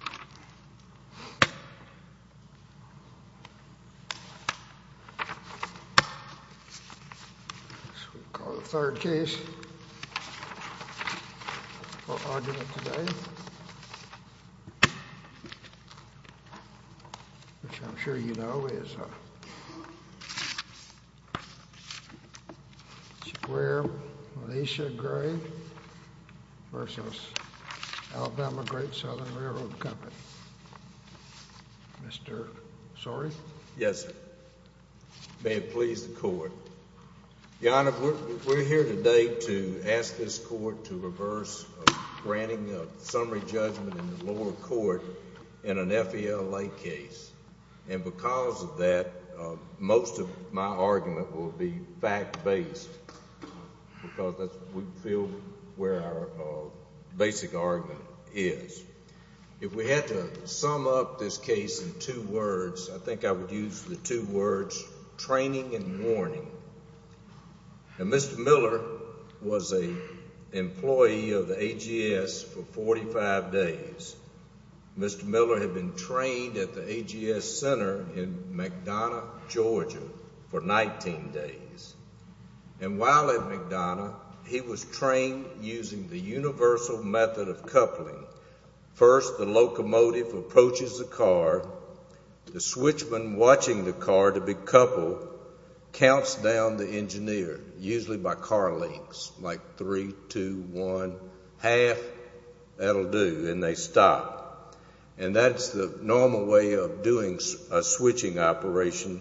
The third case for argument today, which I'm sure you know, is Square-Malaysia Gray v. Alabama Great Southern Railroad Company. Mr. Sori? Yes, sir. May it please the court. Your Honor, we're here today to ask this court to reverse granting a summary judgment in the lower court in an FALA case. And because of that, most of my argument will be fact-based because we feel where our basic argument is. If we had to sum up this case in two words, I think I would use the two words, training and warning. And Mr. Miller was an employee of the AGS for 45 days. Mr. Miller had been trained at the AGS center in McDonough, Georgia for 19 days. And while at McDonough, he was trained using the universal method of coupling. First, the locomotive approaches the car. The switchman watching the car to be coupled counts down the engineer, usually by car lengths, like three, two, one, half. That will do, and they stop. And that's the normal way of doing a switching operation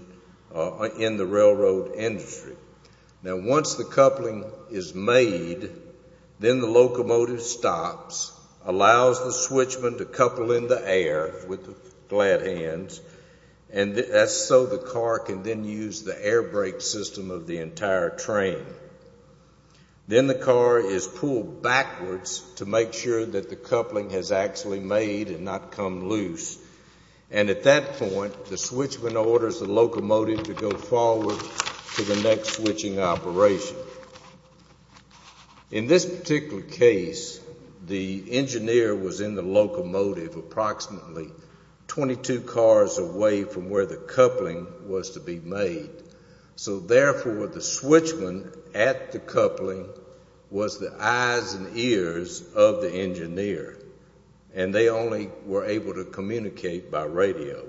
in the railroad industry. Now, once the coupling is made, then the locomotive stops, allows the switchman to couple in the air with the flat hands, and that's so the car can then use the air brake system of the entire train. Then the car is pulled backwards to make sure that the coupling has actually made and not come loose. And at that point, the switchman orders the locomotive to go forward to the next switching operation. In this particular case, the engineer was in the locomotive approximately 22 cars away from where the coupling was to be made. So, therefore, the switchman at the coupling was the eyes and ears of the engineer, and they only were able to communicate by radio.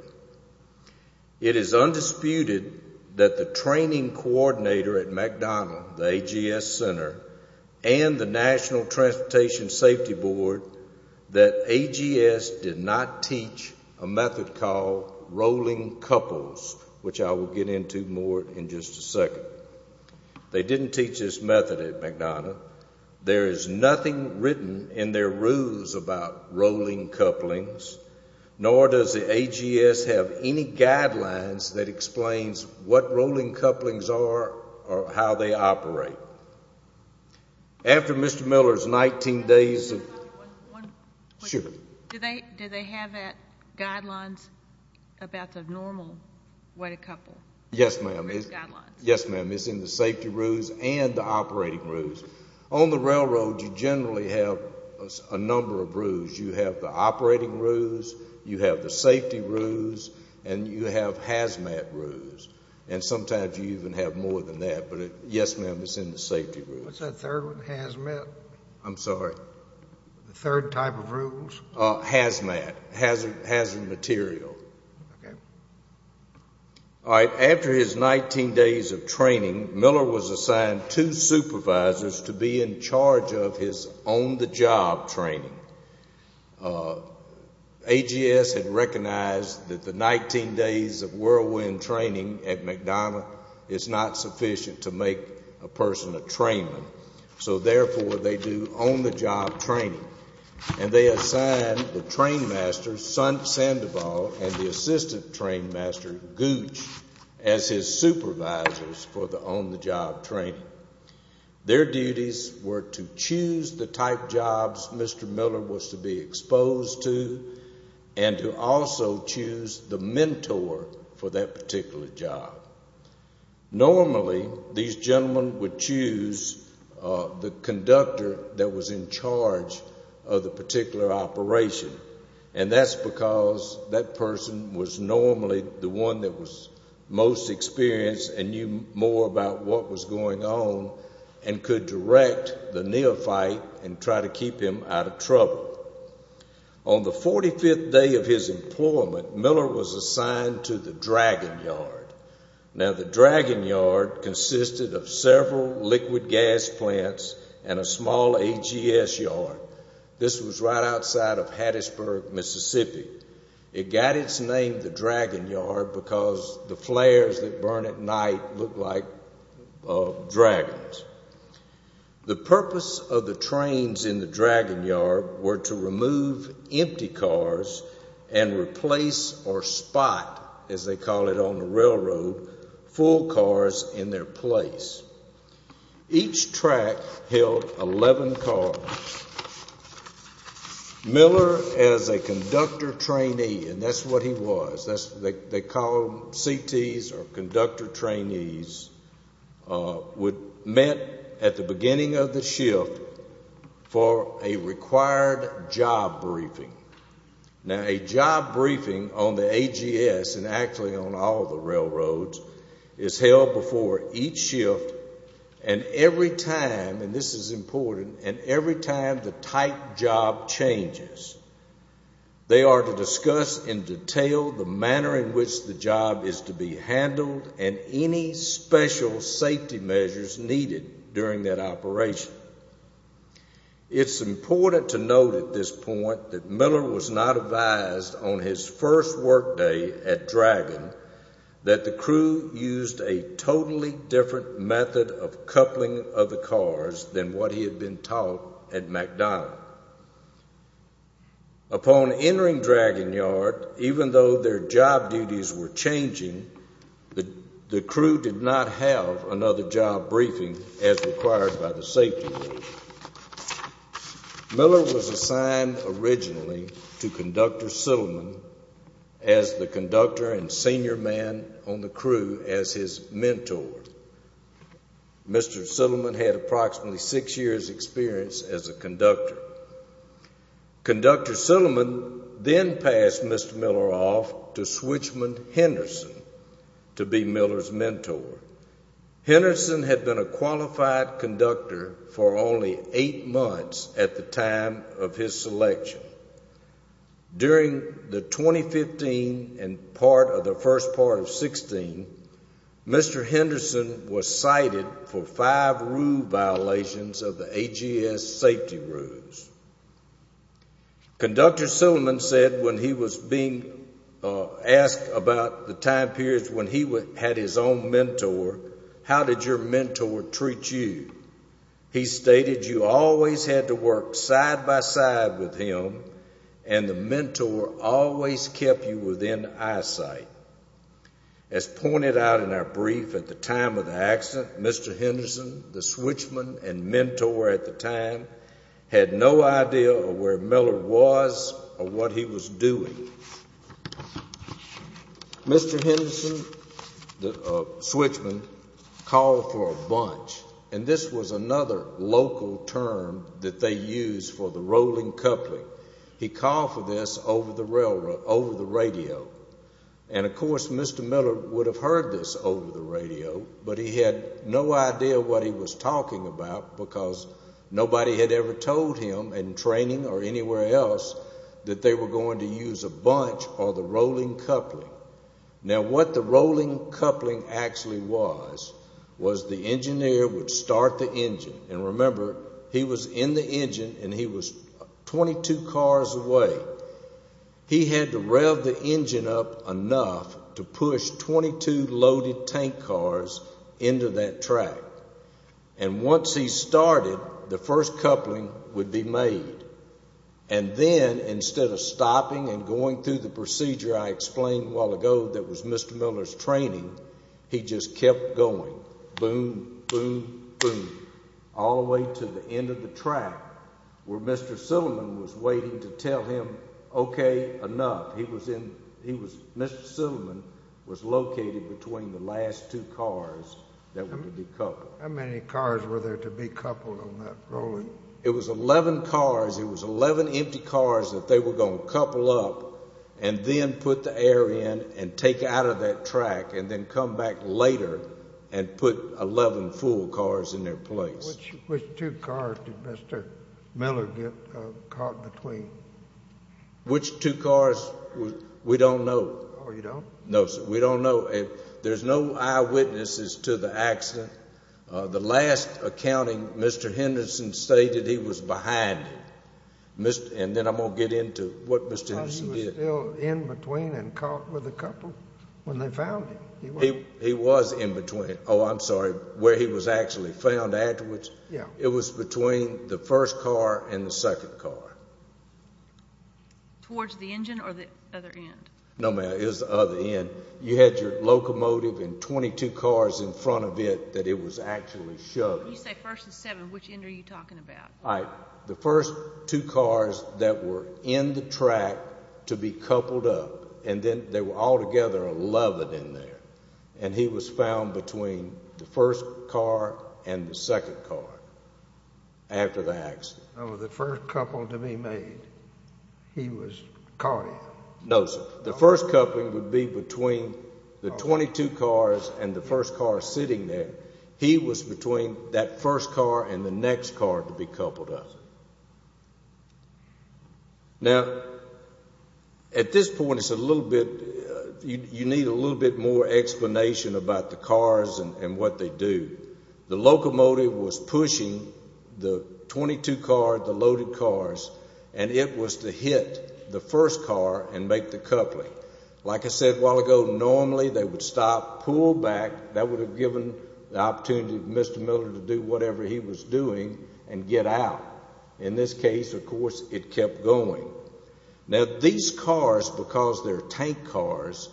It is undisputed that the training coordinator at McDonnell, the AGS Center, and the National Transportation Safety Board, that AGS did not teach a method called rolling couples, which I will get into more in just a second. They didn't teach this method at McDonnell. There is nothing written in their rules about rolling couplings, nor does the AGS have any guidelines that explains what rolling couplings are or how they operate. After Mr. Miller's 19 days of... One question. Sure. Do they have that guidelines about the normal way to couple? Yes, ma'am. Yes, ma'am. It's in the safety rules and the operating rules. And sometimes you even have more than that. But, yes, ma'am, it's in the safety rules. What's that third one? Hazmat? I'm sorry? The third type of rules? Hazmat. Hazard material. Okay. All right. After his 19 days of training, Miller was assigned two supervisors to be in charge of his on-the-job training. AGS had recognized that the 19 days of whirlwind training at McDonnell is not sufficient to make a person a trainer. So, therefore, they do on-the-job training. And they assigned the train master, Son Sandoval, and the assistant train master, Gooch, as his supervisors for the on-the-job training. Their duties were to choose the type jobs Mr. Miller was to be exposed to and to also choose the mentor for that particular job. Normally, these gentlemen would choose the conductor that was in charge of the particular operation. And that's because that person was normally the one that was most experienced and knew more about what was going on and could direct the neophyte and try to keep him out of trouble. On the 45th day of his employment, Miller was assigned to the Dragon Yard. Now, the Dragon Yard consisted of several liquid gas plants and a small AGS yard. This was right outside of Hattiesburg, Mississippi. It got its name, the Dragon Yard, because the flares that burn at night look like dragons. The purpose of the trains in the Dragon Yard were to remove empty cars and replace or spot, as they call it on the railroad, full cars in their place. Each track held 11 cars. Miller, as a conductor trainee, and that's what he was, they call them CTs or conductor trainees, was met at the beginning of the shift for a required job briefing. Now, a job briefing on the AGS and actually on all the railroads is held before each shift and every time, and this is important, and every time the type job changes, they are to discuss in detail the manner in which the job is to be handled and any special safety measures needed during that operation. It's important to note at this point that Miller was not advised on his first work day at Dragon that the crew used a totally different method of coupling of the cars than what he had been taught at McDonald. Upon entering Dragon Yard, even though their job duties were changing, the crew did not have another job briefing as required by the safety rules. Miller was assigned originally to Conductor Sittleman as the conductor and senior man on the crew as his mentor. Mr. Sittleman had approximately six years' experience as a conductor. Conductor Sittleman then passed Mr. Miller off to Switchman Henderson to be Miller's mentor. Henderson had been a qualified conductor for only eight months at the time of his selection. During the 2015 and part of the first part of 2016, Mr. Henderson was cited for five rule violations of the AGS safety rules. Conductor Sittleman said when he was being asked about the time periods when he had his own mentor, how did your mentor treat you? He stated you always had to work side by side with him and the mentor always kept you within eyesight. As pointed out in our brief at the time of the accident, Mr. Henderson, the switchman and mentor at the time, had no idea of where Miller was or what he was doing. Mr. Henderson, the switchman, called for a bunch. And this was another local term that they used for the rolling coupling. He called for this over the radio. And, of course, Mr. Miller would have heard this over the radio, but he had no idea what he was talking about because nobody had ever told him in training or anywhere else that they were going to use a bunch or the rolling coupling. Now, what the rolling coupling actually was, was the engineer would start the engine. And remember, he was in the engine and he was 22 cars away. He had to rev the engine up enough to push 22 loaded tank cars into that track. And once he started, the first coupling would be made. And then, instead of stopping and going through the procedure I explained a while ago that was Mr. Miller's training, he just kept going, boom, boom, boom, all the way to the end of the track where Mr. Silliman was waiting to tell him, okay, enough. Mr. Silliman was located between the last two cars that would be coupled. How many cars were there to be coupled on that rolling? It was 11 cars. It was 11 empty cars that they were going to couple up and then put the air in and take out of that track and then come back later and put 11 full cars in their place. Which two cars did Mr. Miller get caught between? Which two cars? We don't know. Oh, you don't? No, sir. We don't know. There's no eyewitnesses to the accident. The last accounting, Mr. Henderson stated he was behind it. And then I'm going to get into what Mr. Henderson did. He was still in between and caught with a couple when they found him. He was in between. Oh, I'm sorry, where he was actually found afterwards. Yeah. It was between the first car and the second car. Towards the engine or the other end? No, ma'am, it was the other end. You had your locomotive and 22 cars in front of it that it was actually shoved. You say first and seven. Which end are you talking about? The first two cars that were in the track to be coupled up. And then they were all together 11 in there. And he was found between the first car and the second car after the accident. No, sir. The first coupling would be between the 22 cars and the first car sitting there. He was between that first car and the next car to be coupled up. Now, at this point it's a little bit, you need a little bit more explanation about the cars and what they do. The locomotive was pushing the 22 car, the loaded cars, and it was to hit the first car and make the coupling. Like I said a while ago, normally they would stop, pull back. That would have given the opportunity for Mr. Miller to do whatever he was doing and get out. In this case, of course, it kept going. Now, these cars, because they're tank cars,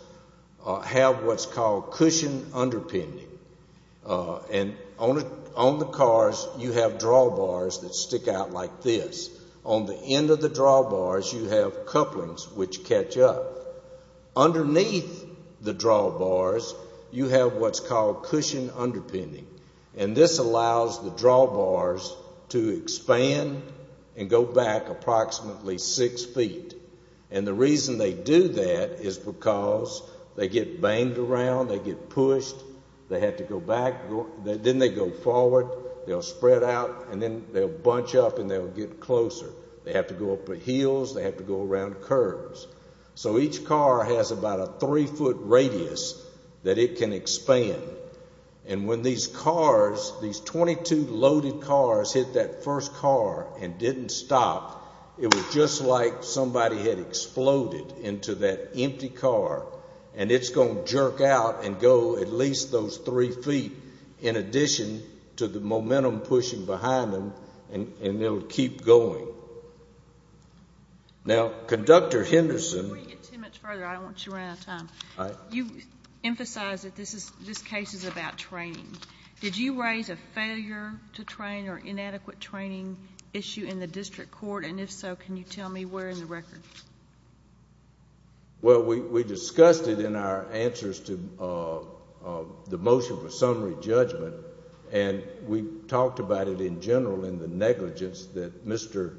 have what's called cushion underpinning. And on the cars you have drawbars that stick out like this. On the end of the drawbars you have couplings which catch up. Underneath the drawbars you have what's called cushion underpinning. And this allows the drawbars to expand and go back approximately six feet. And the reason they do that is because they get banged around. They get pushed. They have to go back. Then they go forward. They'll spread out and then they'll bunch up and they'll get closer. They have to go up the hills. They have to go around curves. So each car has about a three-foot radius that it can expand. And when these cars, these 22 loaded cars, hit that first car and didn't stop, it was just like somebody had exploded into that empty car and it's going to jerk out and go at least those three feet in addition to the momentum pushing behind them and it'll keep going. Now, Conductor Henderson. Before you get too much further, I don't want you to run out of time. All right. You emphasized that this case is about training. Did you raise a failure to train or inadequate training issue in the district court? And if so, can you tell me where in the record? Well, we discussed it in our answers to the motion for summary judgment and we talked about it in general in the negligence that Mr.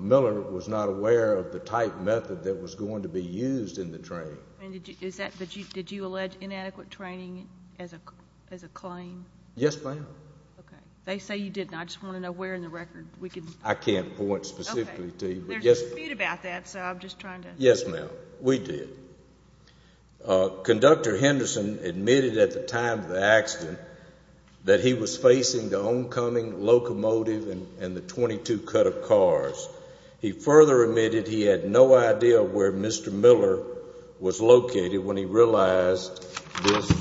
Miller was not aware of the type method that was going to be used in the training. Did you allege inadequate training as a claim? Yes, ma'am. Okay. They say you didn't. I just want to know where in the record. I can't point specifically to you. There's a dispute about that, so I'm just trying to. Yes, ma'am. We did. Conductor Henderson admitted at the time of the accident that he was facing the homecoming locomotive and the 22 cut-up cars. He further admitted he had no idea where Mr. Miller was located when he realized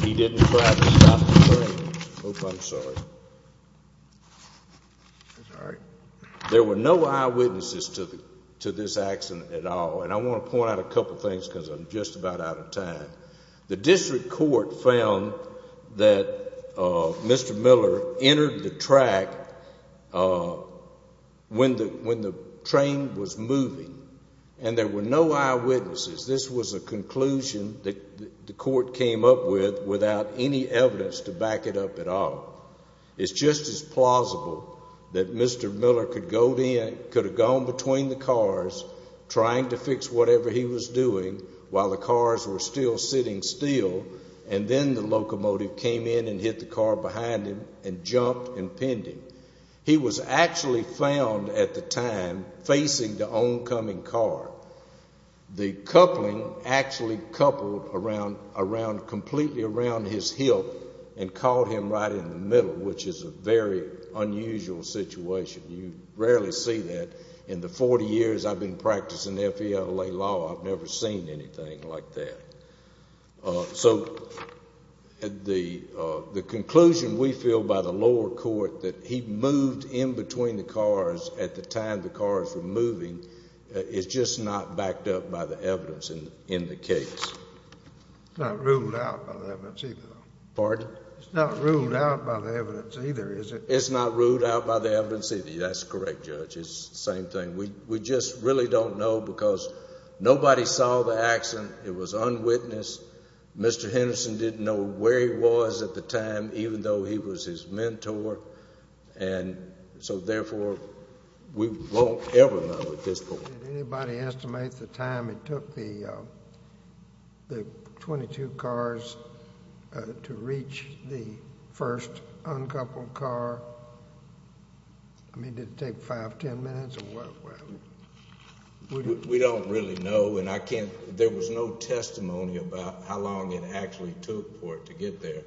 he didn't try to stop the train. I'm sorry. That's all right. There were no eyewitnesses to this accident at all. And I want to point out a couple things because I'm just about out of time. The district court found that Mr. Miller entered the track when the train was moving, and there were no eyewitnesses. This was a conclusion that the court came up with without any evidence to back it up at all. It's just as plausible that Mr. Miller could have gone between the cars, trying to fix whatever he was doing while the cars were still sitting still, and then the locomotive came in and hit the car behind him and jumped and pinned him. He was actually found at the time facing the homecoming car. The coupling actually coupled completely around his hilt and caught him right in the middle, which is a very unusual situation. You rarely see that. In the 40 years I've been practicing FELA law, I've never seen anything like that. So the conclusion we feel by the lower court that he moved in between the cars at the time the cars were moving is just not backed up by the evidence in the case. It's not ruled out by the evidence either, though. Pardon? It's not ruled out by the evidence either, is it? It's not ruled out by the evidence either. That's correct, Judge. It's the same thing. We just really don't know because nobody saw the accident. It was unwitnessed. Mr. Henderson didn't know where he was at the time, even though he was his mentor. So therefore, we won't ever know at this point. Did anybody estimate the time it took the 22 cars to reach the first uncoupled car? I mean, did it take 5, 10 minutes? We don't really know, and there was no testimony about how long it actually took for it to get there.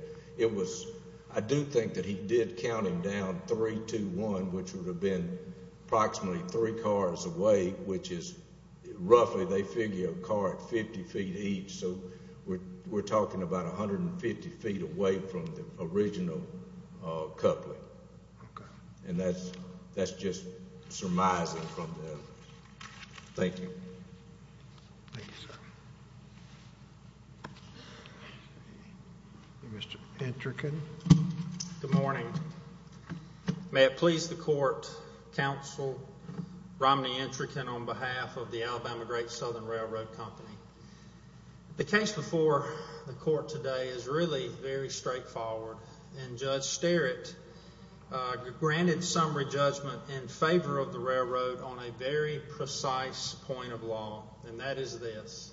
I do think that he did count him down 3-2-1, which would have been approximately 3 cars away, which is roughly, they figure, a car at 50 feet each. So we're talking about 150 feet away from the original coupling. Okay. And that's just surmising from the evidence. Thank you. Thank you, sir. Mr. Entrecott. Good morning. May it please the Court, Counsel Romney Entrecott, on behalf of the Alabama Great Southern Railroad Company. The case before the Court today is really very straightforward, and Judge Sterritt granted summary judgment in favor of the railroad on a very precise point of law, and that is this.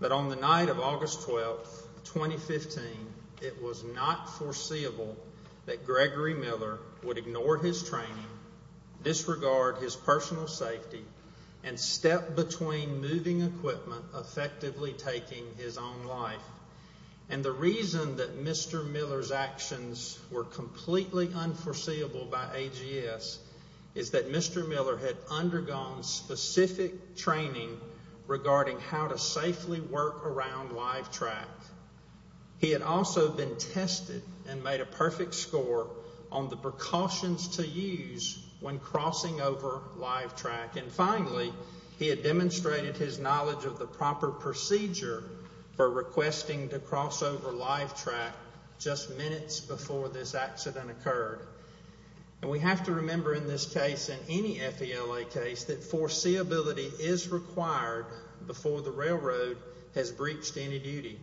That on the night of August 12, 2015, it was not foreseeable that Gregory Miller would ignore his training, disregard his personal safety, and step between moving equipment, effectively taking his own life. And the reason that Mr. Miller's actions were completely unforeseeable by AGS is that Mr. Miller had undergone specific training regarding how to safely work around live track. He had also been tested and made a perfect score on the precautions to use when crossing over live track. And finally, he had demonstrated his knowledge of the proper procedure for requesting to cross over live track just minutes before this accident occurred. And we have to remember in this case and any FELA case that foreseeability is required before the railroad has breached any duty.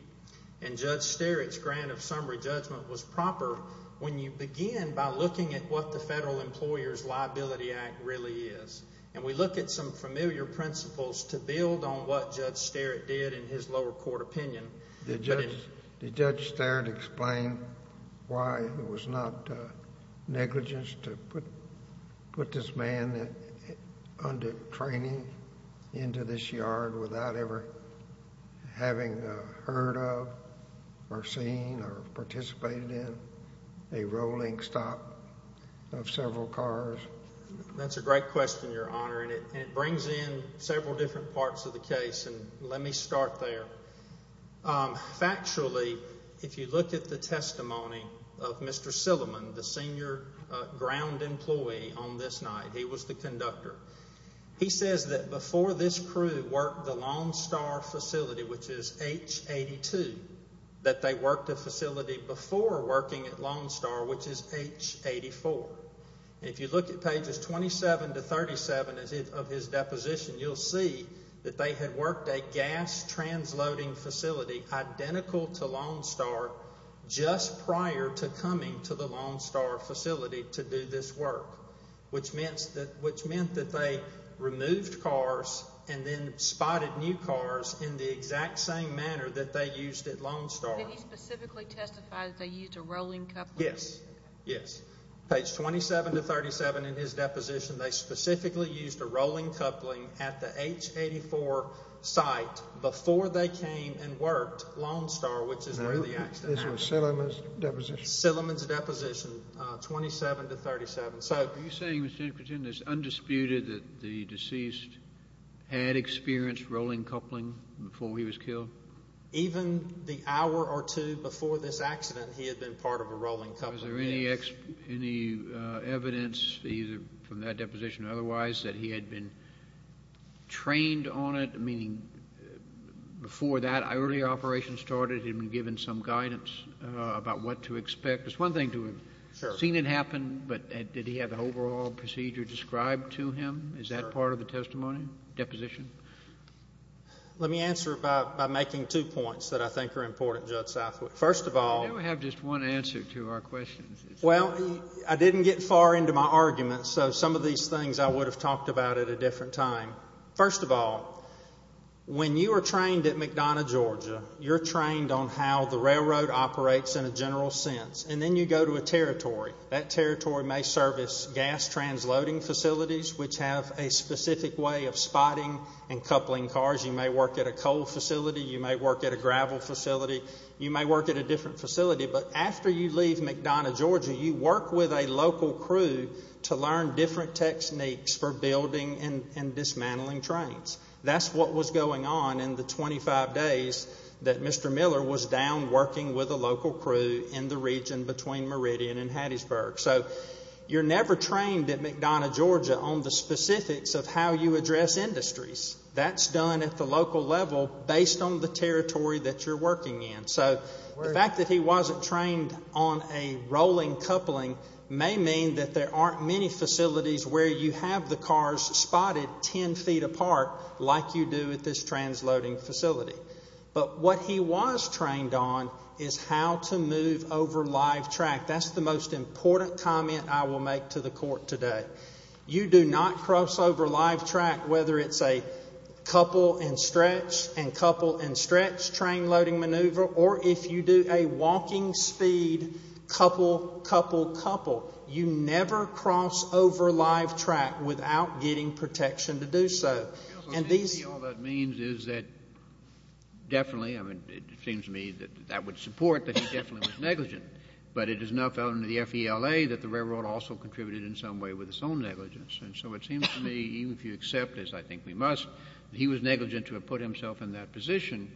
And Judge Sterritt's grant of summary judgment was proper when you begin by looking at what the Federal Employers' Liability Act really is. And we look at some familiar principles to build on what Judge Sterritt did in his lower court opinion. Did Judge Sterritt explain why it was not negligence to put this man under training into this yard without ever having heard of or seen or participated in a rolling stop of several cars? That's a great question, Your Honor, and it brings in several different parts of the case. And let me start there. Factually, if you look at the testimony of Mr. Silliman, the senior ground employee on this night, he was the conductor. He says that before this crew worked the Lonestar facility, which is H82, that they worked the facility before working at Lonestar, which is H84. And if you look at pages 27 to 37 of his deposition, you'll see that they had worked a gas-transloading facility identical to Lonestar just prior to coming to the Lonestar facility to do this work, which meant that they removed cars and then spotted new cars in the exact same manner that they used at Lonestar. Did he specifically testify that they used a rolling coupling? Yes, yes. Page 27 to 37 in his deposition, they specifically used a rolling coupling at the H84 site before they came and worked Lonestar, which is where the accident happened. This was Silliman's deposition? Silliman's deposition, 27 to 37. So are you saying, Mr. Christian, it's undisputed that the deceased had experienced rolling coupling before he was killed? Even the hour or two before this accident, he had been part of a rolling coupling. Was there any evidence, either from that deposition or otherwise, that he had been trained on it, meaning before that early operation started, he had been given some guidance about what to expect? It's one thing to have seen it happen, but did he have the overall procedure described to him? Is that part of the testimony, deposition? Let me answer it by making two points that I think are important, Judge Southwick. First of all— You never have just one answer to our questions. Well, I didn't get far into my argument, so some of these things I would have talked about at a different time. First of all, when you are trained at McDonough, Georgia, you're trained on how the railroad operates in a general sense, and then you go to a territory. That territory may service gas transloading facilities, which have a specific way of spotting and coupling cars. You may work at a coal facility. You may work at a gravel facility. You may work at a different facility. But after you leave McDonough, Georgia, you work with a local crew to learn different techniques for building and dismantling trains. That's what was going on in the 25 days that Mr. Miller was down working with a local crew in the region between Meridian and Hattiesburg. So you're never trained at McDonough, Georgia, on the specifics of how you address industries. That's done at the local level based on the territory that you're working in. So the fact that he wasn't trained on a rolling coupling may mean that there aren't many facilities where you have the cars spotted ten feet apart like you do at this transloading facility. But what he was trained on is how to move over live track. That's the most important comment I will make to the court today. You do not cross over live track whether it's a couple and stretch and couple and stretch train loading maneuver or if you do a walking speed couple, couple, couple. You never cross over live track without getting protection to do so. All that means is that definitely, I mean, it seems to me that that would support that he definitely was negligent. But it is not found in the FELA that the railroad also contributed in some way with its own negligence. And so it seems to me even if you accept this, I think we must, he was negligent to have put himself in that position.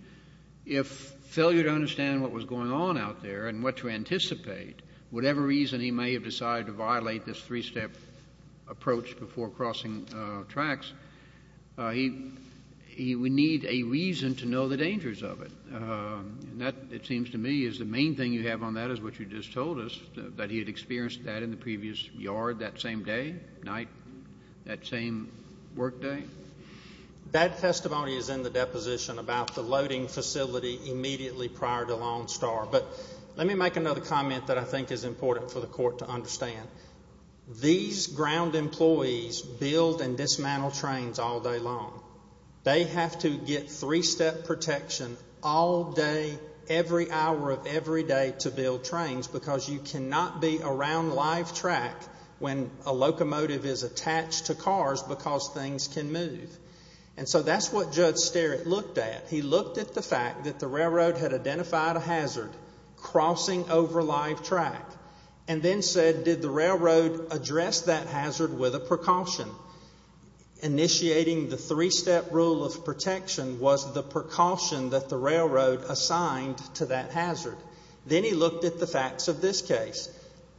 If failure to understand what was going on out there and what to anticipate, whatever reason he may have decided to violate this three-step approach before crossing tracks, he would need a reason to know the dangers of it. And that, it seems to me, is the main thing you have on that is what you just told us, that he had experienced that in the previous yard that same day, night, that same work day. Bad testimony is in the deposition about the loading facility immediately prior to Longstar. But let me make another comment that I think is important for the court to understand. These ground employees build and dismantle trains all day long. They have to get three-step protection all day, every hour of every day to build trains because you cannot be around live track when a locomotive is attached to cars because things can move. And so that's what Judge Sterritt looked at. He looked at the fact that the railroad had identified a hazard crossing over live track and then said, did the railroad address that hazard with a precaution? Initiating the three-step rule of protection was the precaution that the railroad assigned to that hazard. Then he looked at the facts of this case.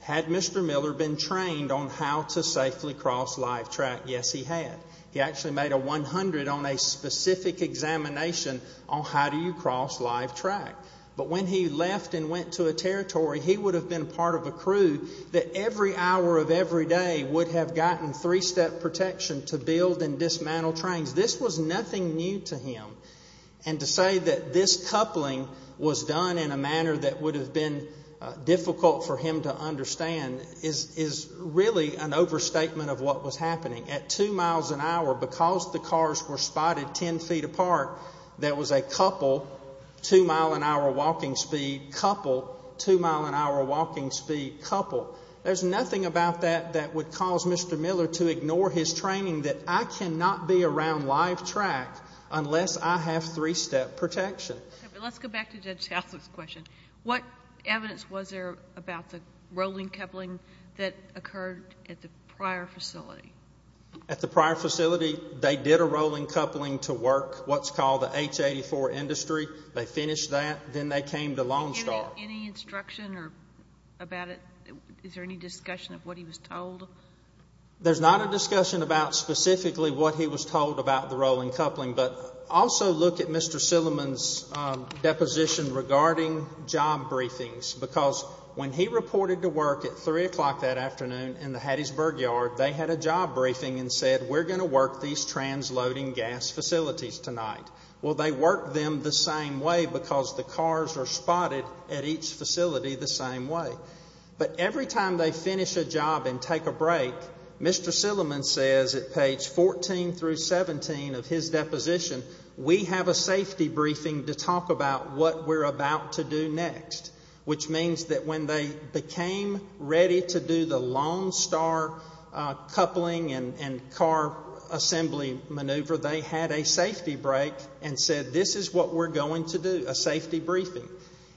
Had Mr. Miller been trained on how to safely cross live track? Yes, he had. He actually made a 100 on a specific examination on how do you cross live track. But when he left and went to a territory, he would have been part of a crew that every hour of every day would have gotten three-step protection to build and dismantle trains. This was nothing new to him. And to say that this coupling was done in a manner that would have been difficult for him to understand is really an overstatement of what was happening. At two miles an hour, because the cars were spotted ten feet apart, there was a couple two-mile-an-hour walking speed, couple two-mile-an-hour walking speed, couple. There's nothing about that that would cause Mr. Miller to ignore his training that I cannot be around live track unless I have three-step protection. Let's go back to Judge Hathaway's question. What evidence was there about the rolling coupling that occurred at the prior facility? At the prior facility, they did a rolling coupling to work what's called the H84 industry. They finished that. Then they came to Lonestar. Any instruction about it? Is there any discussion of what he was told? There's not a discussion about specifically what he was told about the rolling coupling, but also look at Mr. Silliman's deposition regarding job briefings, because when he reported to work at 3 o'clock that afternoon in the Hattiesburg yard, they had a job briefing and said, we're going to work these transloading gas facilities tonight. Well, they worked them the same way because the cars are spotted at each facility the same way. But every time they finish a job and take a break, Mr. Silliman says at page 14 through 17 of his deposition, we have a safety briefing to talk about what we're about to do next, which means that when they became ready to do the Lonestar coupling and car assembly maneuver, they had a safety break and said, this is what we're going to do, a safety briefing.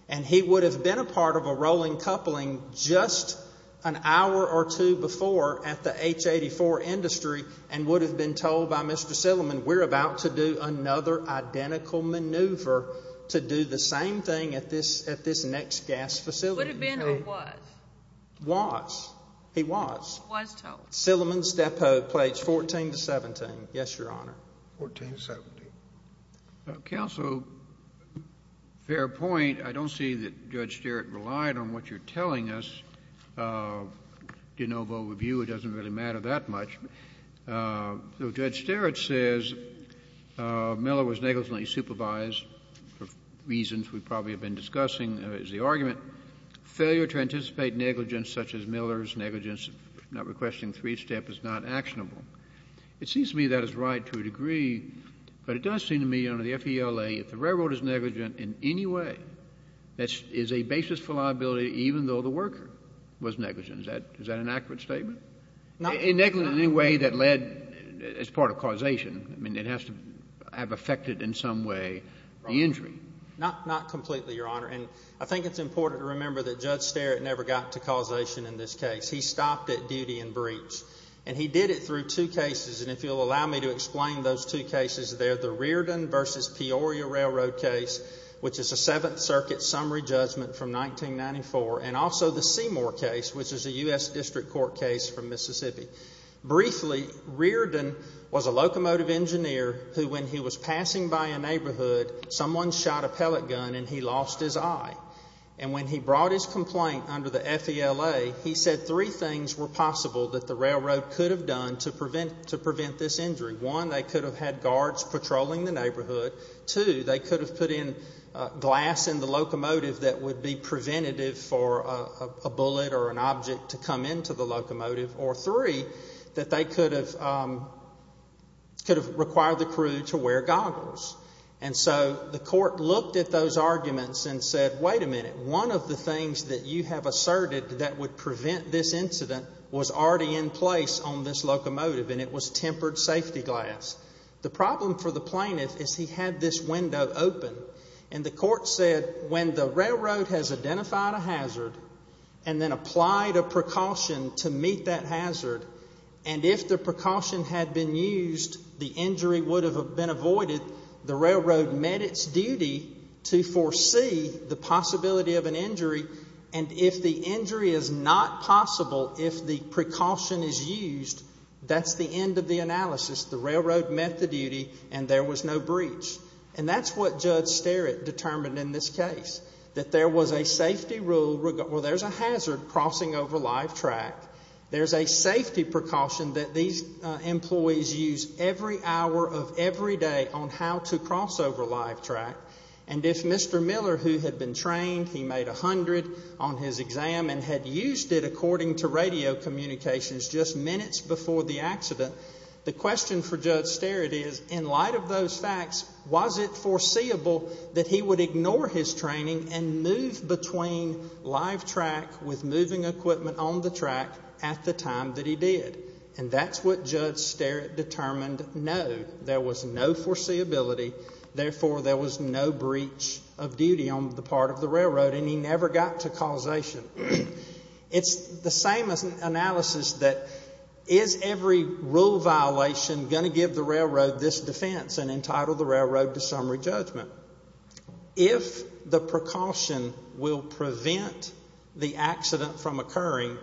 And he would have been a part of a rolling coupling just an hour or two before at the H84 industry and would have been told by Mr. Silliman, we're about to do another identical maneuver to do the same thing at this next gas facility. Would have been or was? Was. He was. Was told. Silliman's depo, page 14 to 17. Yes, Your Honor. 14 to 17. Counsel, fair point. I don't see that Judge Sterrett relied on what you're telling us. De novo review, it doesn't really matter that much. So Judge Sterrett says Miller was negligently supervised for reasons we've probably been discussing as the argument. Failure to anticipate negligence such as Miller's negligence, not requesting three-step, is not actionable. It seems to me that is right to a degree, but it does seem to me under the FELA, if the railroad is negligent in any way, that is a basis for liability even though the worker was negligent. Is that an accurate statement? In any way that led as part of causation. I mean, it has to have affected in some way the injury. Not completely, Your Honor. And I think it's important to remember that Judge Sterrett never got to causation in this case. He stopped at duty and breach. And he did it through two cases, and if you'll allow me to explain those two cases, they're the Reardon v. Peoria railroad case, which is a Seventh Circuit summary judgment from 1994, and also the Seymour case, which is a U.S. District Court case from Mississippi. Briefly, Reardon was a locomotive engineer who, when he was passing by a neighborhood, someone shot a pellet gun and he lost his eye. And when he brought his complaint under the FELA, he said three things were possible that the railroad could have done to prevent this injury. One, they could have had guards patrolling the neighborhood. Two, they could have put in glass in the locomotive that would be preventative for a bullet or an object to come into the locomotive. Or three, that they could have required the crew to wear goggles. And so the court looked at those arguments and said, wait a minute, one of the things that you have asserted that would prevent this incident was already in place on this locomotive, and it was tempered safety glass. The problem for the plaintiff is he had this window open, and the court said when the railroad has identified a hazard and then applied a precaution to meet that hazard, and if the precaution had been used, the injury would have been avoided. The railroad met its duty to foresee the possibility of an injury, and if the injury is not possible, if the precaution is used, that's the end of the analysis. The railroad met the duty, and there was no breach. And that's what Judge Sterritt determined in this case, that there was a safety rule. Well, there's a hazard crossing over live track. There's a safety precaution that these employees use every hour of every day on how to cross over live track. And if Mr. Miller, who had been trained, he made 100 on his exam and had used it according to radio communications just minutes before the accident, the question for Judge Sterritt is, in light of those facts, was it foreseeable that he would ignore his training and move between live track with moving equipment on the track at the time that he did? And that's what Judge Sterritt determined no. There was no foreseeability. Therefore, there was no breach of duty on the part of the railroad, and he never got to causation. It's the same analysis that is every rule violation going to give the railroad this defense and entitle the railroad to summary judgment? If the precaution will prevent the accident from occurring,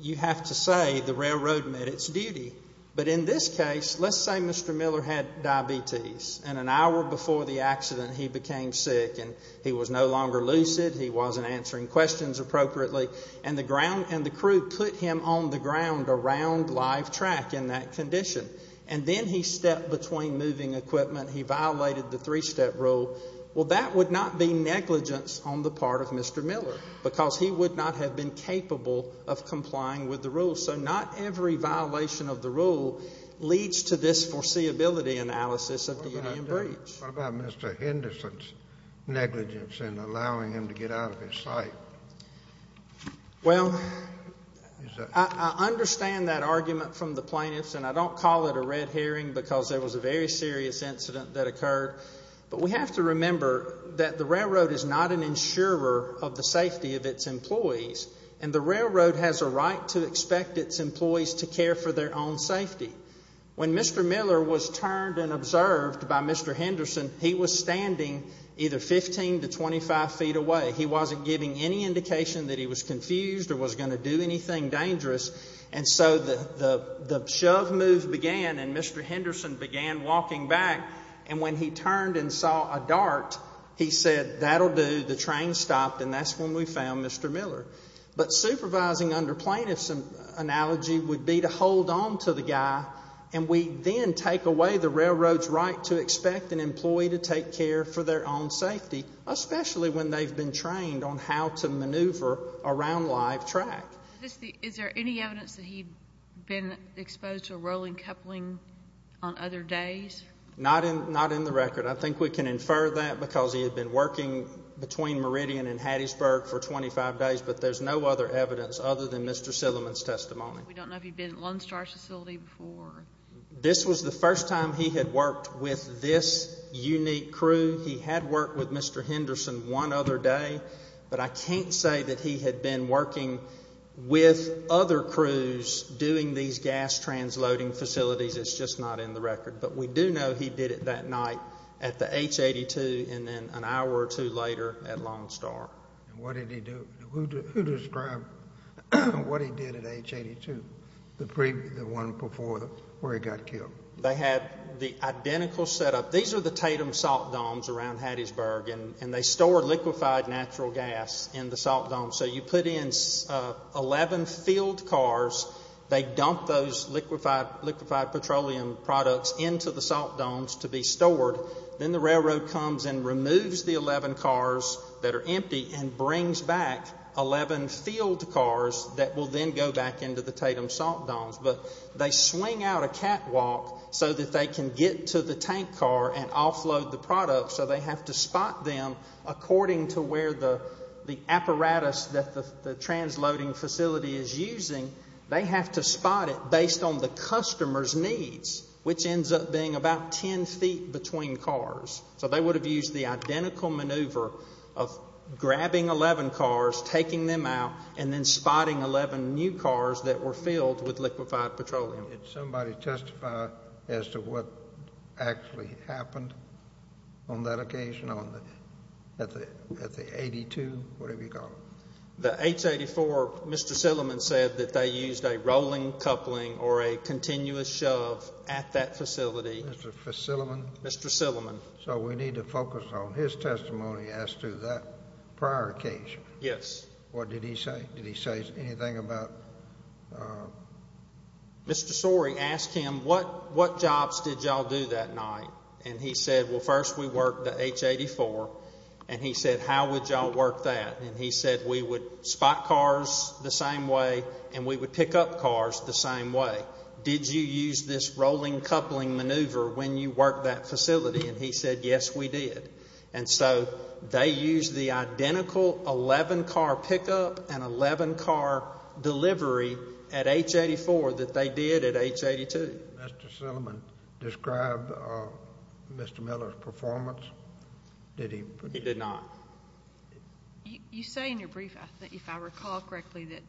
you have to say the railroad met its duty. But in this case, let's say Mr. Miller had diabetes, and an hour before the accident he became sick and he was no longer lucid, he wasn't answering questions appropriately, and the crew put him on the ground around live track in that condition. And then he stepped between moving equipment. He violated the three-step rule. Well, that would not be negligence on the part of Mr. Miller because he would not have been capable of complying with the rule. So not every violation of the rule leads to this foreseeability analysis of duty and breach. What about Mr. Henderson's negligence in allowing him to get out of his sight? Well, I understand that argument from the plaintiffs, and I don't call it a red herring because there was a very serious incident that occurred. But we have to remember that the railroad is not an insurer of the safety of its employees, and the railroad has a right to expect its employees to care for their own safety. When Mr. Miller was turned and observed by Mr. Henderson, he was standing either 15 to 25 feet away. He wasn't giving any indication that he was confused or was going to do anything dangerous. And so the shove move began, and Mr. Henderson began walking back. And when he turned and saw a dart, he said, that'll do. The train stopped, and that's when we found Mr. Miller. But supervising under plaintiffs' analogy would be to hold on to the guy, and we then take away the railroad's right to expect an employee to take care for their own safety, especially when they've been trained on how to maneuver around live track. Is there any evidence that he'd been exposed to a rolling coupling on other days? Not in the record. I think we can infer that because he had been working between Meridian and Hattiesburg for 25 days, but there's no other evidence other than Mr. Silliman's testimony. We don't know if he'd been at Lone Star facility before. This was the first time he had worked with this unique crew. He had worked with Mr. Henderson one other day, but I can't say that he had been working with other crews doing these gas transloading facilities. It's just not in the record. But we do know he did it that night at the H-82 and then an hour or two later at Lone Star. And what did he do? Who described what he did at H-82, the one before where he got killed? They had the identical setup. These are the Tatum salt domes around Hattiesburg, and they store liquefied natural gas in the salt domes. So you put in 11 field cars. They dump those liquefied petroleum products into the salt domes to be stored. Then the railroad comes and removes the 11 cars that are empty and brings back 11 field cars that will then go back into the Tatum salt domes. But they swing out a catwalk so that they can get to the tank car and offload the product. So they have to spot them according to where the apparatus that the transloading facility is using. They have to spot it based on the customer's needs, which ends up being about 10 feet between cars. So they would have used the identical maneuver of grabbing 11 cars, taking them out, and then spotting 11 new cars that were filled with liquefied petroleum. Did somebody testify as to what actually happened on that occasion at the 82, whatever you call it? The H-84, Mr. Silliman said that they used a rolling coupling or a continuous shove at that facility. Mr. Silliman? Mr. Silliman. So we need to focus on his testimony as to that prior occasion. Yes. What did he say? Did he say anything about? Mr. Sorey asked him, what jobs did y'all do that night? And he said, well, first we worked the H-84. And he said, how would y'all work that? And he said, we would spot cars the same way and we would pick up cars the same way. Did you use this rolling coupling maneuver when you worked that facility? And he said, yes, we did. And so they used the identical 11-car pickup and 11-car delivery at H-84 that they did at H-82. Mr. Silliman described Mr. Miller's performance. Did he? He did not. You say in your brief, if I recall correctly, that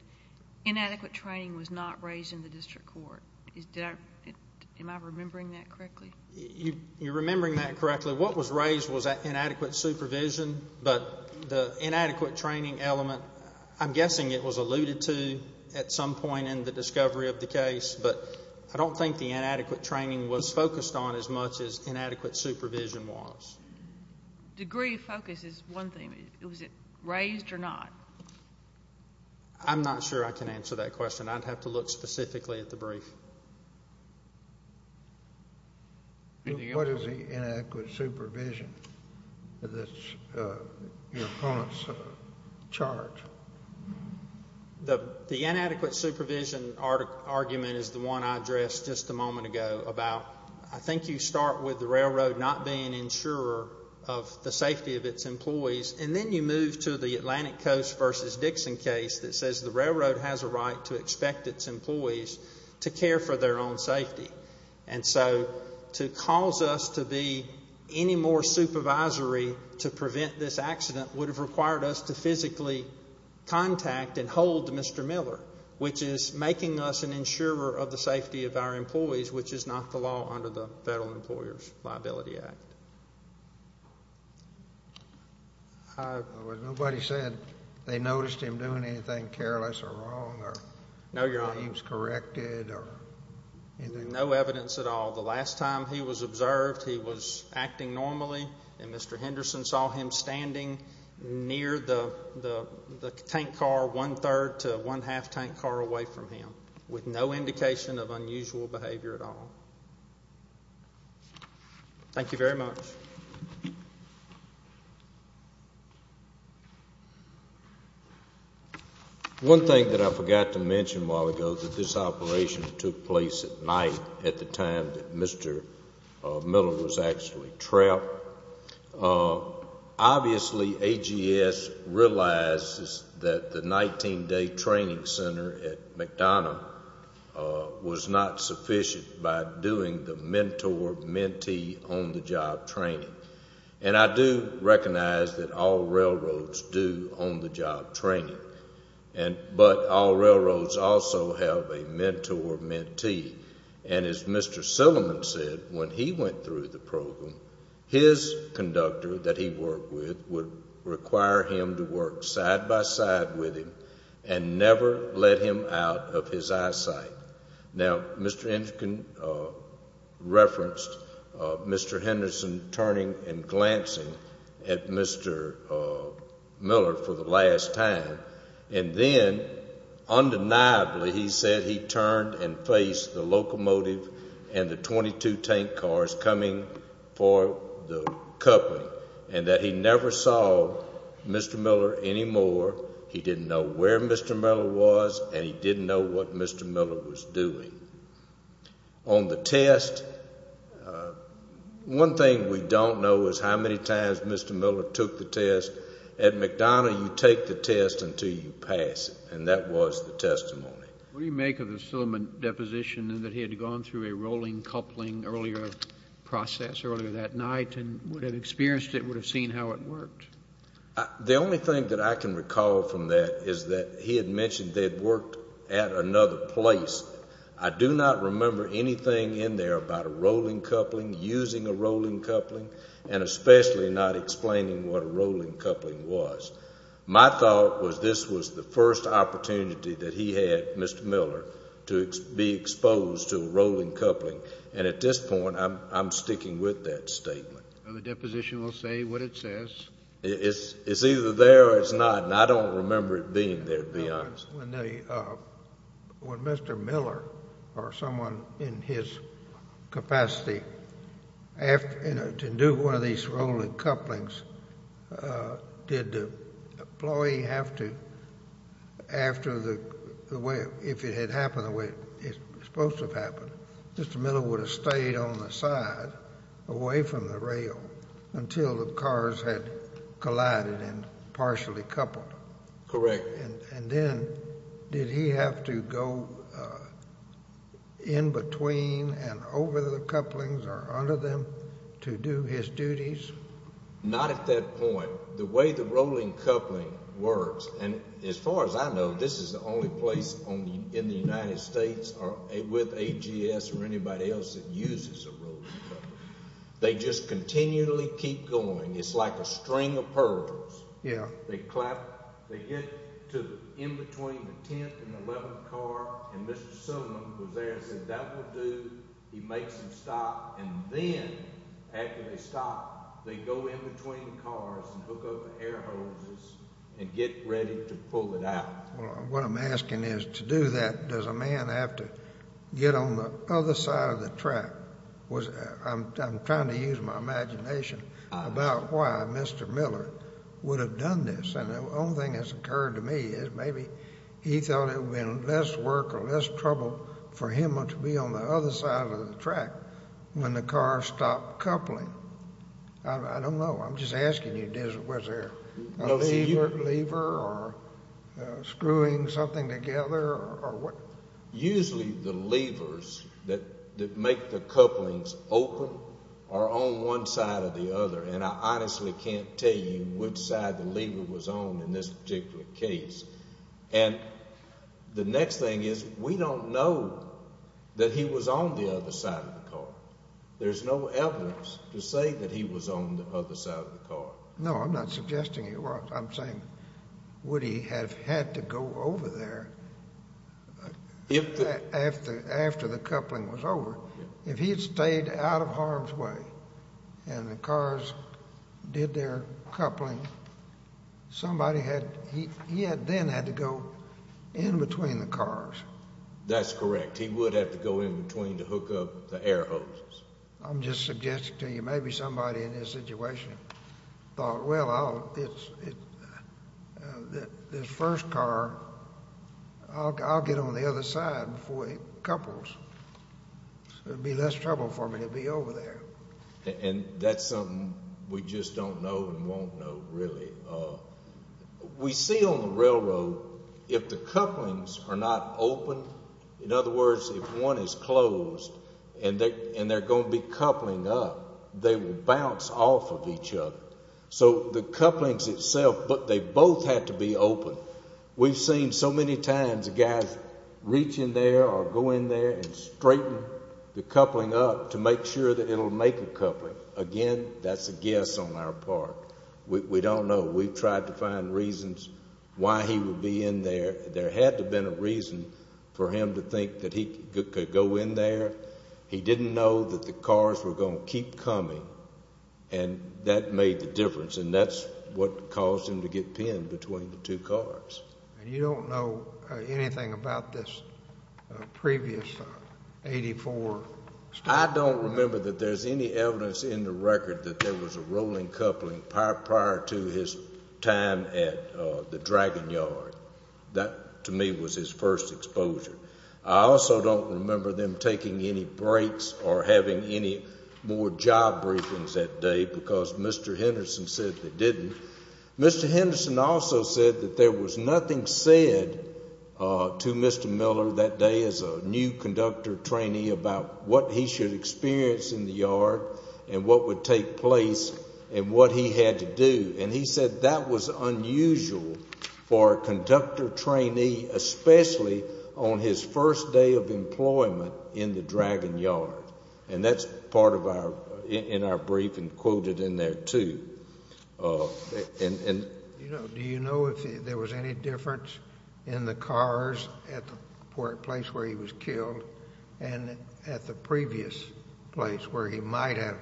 inadequate training was not raised in the district court. Am I remembering that correctly? You're remembering that correctly. What was raised was inadequate supervision, but the inadequate training element, I'm guessing it was alluded to at some point in the discovery of the case, but I don't think the inadequate training was focused on as much as inadequate supervision was. Degree of focus is one thing. Was it raised or not? I'm not sure I can answer that question. I'd have to look specifically at the brief. What is the inadequate supervision that your opponents charge? The inadequate supervision argument is the one I addressed just a moment ago about, I think you start with the railroad not being an insurer of the safety of its employees, and then you move to the Atlantic Coast v. Dixon case that says the railroad has a right to expect its employees to care for their own safety. And so to cause us to be any more supervisory to prevent this accident would have required us to physically contact and hold Mr. Miller, which is making us an insurer of the safety of our employees, which is not the law under the Federal Employers Liability Act. Nobody said they noticed him doing anything careless or wrong. No, Your Honor. He was corrected or anything? No evidence at all. The last time he was observed, he was acting normally, and Mr. Henderson saw him standing near the tank car one-third to one-half tank car away from him with no indication of unusual behavior at all. Thank you very much. Next. One thing that I forgot to mention a while ago is that this operation took place at night at the time that Mr. Miller was actually trapped. Obviously, AGS realizes that the 19-day training center at McDonough was not sufficient by doing the mentor-mentee on-the-job training. And I do recognize that all railroads do on-the-job training. But all railroads also have a mentor-mentee. And as Mr. Silliman said, when he went through the program, his conductor that he worked with would require him to work side-by-side with him and never let him out of his eyesight. Now, Mr. Henderson referenced Mr. Henderson turning and glancing at Mr. Miller for the last time. And then, undeniably, he said he turned and faced the locomotive and the 22 tank cars coming for the coupling and that he never saw Mr. Miller anymore. He didn't know where Mr. Miller was, and he didn't know what Mr. Miller was doing. On the test, one thing we don't know is how many times Mr. Miller took the test. At McDonough, you take the test until you pass it, and that was the testimony. What do you make of the Silliman deposition that he had gone through a rolling coupling earlier process, earlier that night, and would have experienced it, would have seen how it worked? The only thing that I can recall from that is that he had mentioned they had worked at another place. I do not remember anything in there about a rolling coupling, using a rolling coupling, and especially not explaining what a rolling coupling was. My thought was this was the first opportunity that he had, Mr. Miller, to be exposed to a rolling coupling. And at this point, I'm sticking with that statement. The deposition will say what it says. It's either there or it's not, and I don't remember it being there, to be honest. When Mr. Miller or someone in his capacity to do one of these rolling couplings, did the employee have to, after the way, if it had happened the way it's supposed to have happened, Mr. Miller would have stayed on the side away from the rail until the cars had collided and partially coupled. Correct. And then did he have to go in between and over the couplings or under them to do his duties? Not at that point. The way the rolling coupling works, and as far as I know, this is the only place in the United States with AGS or anybody else that uses a rolling coupling. They just continually keep going. It's like a string of pearls. They clap. They get to in between the 10th and 11th car, and Mr. Sullivan was there and said, he makes them stop, and then after they stop, they go in between cars and hook up the air hoses and get ready to pull it out. What I'm asking is to do that, does a man have to get on the other side of the track? I'm trying to use my imagination about why Mr. Miller would have done this, and the only thing that's occurred to me is maybe he thought it would have been less work or less trouble for him to be on the other side of the track when the cars stopped coupling. I don't know. I'm just asking you, was there a lever or screwing something together? Usually the levers that make the couplings open are on one side or the other, and I honestly can't tell you which side the lever was on in this particular case. And the next thing is we don't know that he was on the other side of the car. There's no evidence to say that he was on the other side of the car. No, I'm not suggesting he was. I'm saying would he have had to go over there after the coupling was over? If he had stayed out of harm's way and the cars did their coupling, he then had to go in between the cars. That's correct. He would have to go in between to hook up the air hose. I'm just suggesting to you maybe somebody in this situation thought, Well, this first car, I'll get on the other side before it couples. It would be less trouble for me to be over there. And that's something we just don't know and won't know really. We see on the railroad if the couplings are not open, in other words, if one is closed and they're going to be coupling up, they will bounce off of each other. So the couplings itself, they both have to be open. We've seen so many times guys reach in there or go in there and straighten the coupling up to make sure that it will make a coupling. Again, that's a guess on our part. We don't know. We've tried to find reasons why he would be in there. There had to have been a reason for him to think that he could go in there. He didn't know that the cars were going to keep coming. And that made the difference, and that's what caused him to get pinned between the two cars. And you don't know anything about this previous 84? I don't remember that there's any evidence in the record that there was a rolling coupling prior to his time at the Dragon Yard. That, to me, was his first exposure. I also don't remember them taking any breaks or having any more job briefings that day because Mr. Henderson said they didn't. Mr. Henderson also said that there was nothing said to Mr. Miller that day as a new conductor trainee about what he should experience in the yard and what would take place and what he had to do. And he said that was unusual for a conductor trainee, especially on his first day of employment in the Dragon Yard. And that's part of our brief and quoted in there, too. Do you know if there was any difference in the cars at the place where he was killed and at the previous place where he might have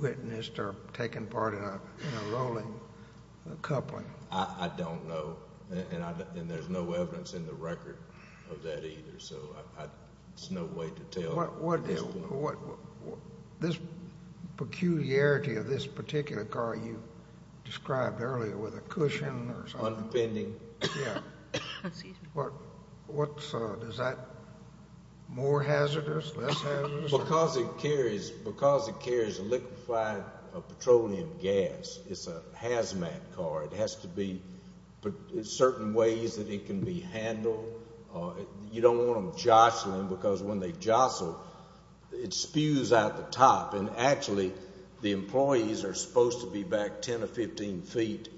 witnessed or taken part in a rolling coupling? I don't know, and there's no evidence in the record of that either. So there's no way to tell at this point. This peculiarity of this particular car you described earlier with a cushion or something. Unpending. Excuse me. Is that more hazardous, less hazardous? Because it carries liquefied petroleum gas, it's a hazmat car. It has to be certain ways that it can be handled. You don't want them jostling because when they jostle, it spews out the top. And actually, the employees are supposed to be back 10 or 15 feet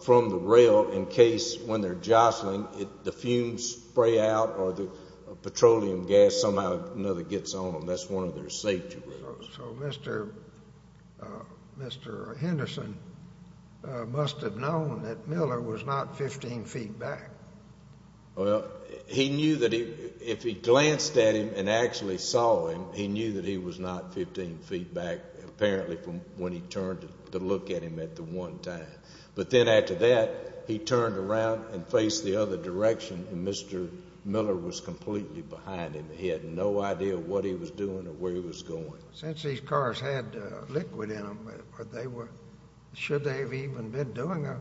from the rail in case when they're jostling, the fumes spray out or the petroleum gas somehow or another gets on them. That's one of their safety rules. So Mr. Henderson must have known that Miller was not 15 feet back. Well, he knew that if he glanced at him and actually saw him, he knew that he was not 15 feet back apparently from when he turned to look at him at the one time. But then after that, he turned around and faced the other direction, and Mr. Miller was completely behind him. He had no idea what he was doing or where he was going. Since these cars had liquid in them, should they have even been doing a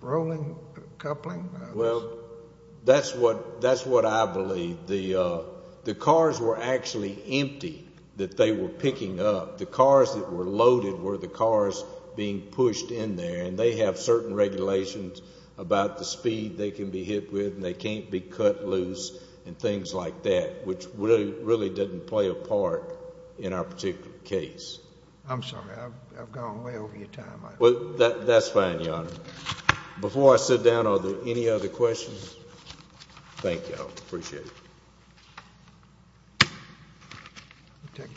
rolling coupling? Well, that's what I believe. The cars were actually empty that they were picking up. The cars that were loaded were the cars being pushed in there, and they have certain regulations about the speed they can be hit with and they can't be cut loose and things like that, which really didn't play a part in our particular case. I'm sorry. I've gone way over your time. That's fine, Your Honor. Before I sit down, are there any other questions? Thank you. I appreciate it.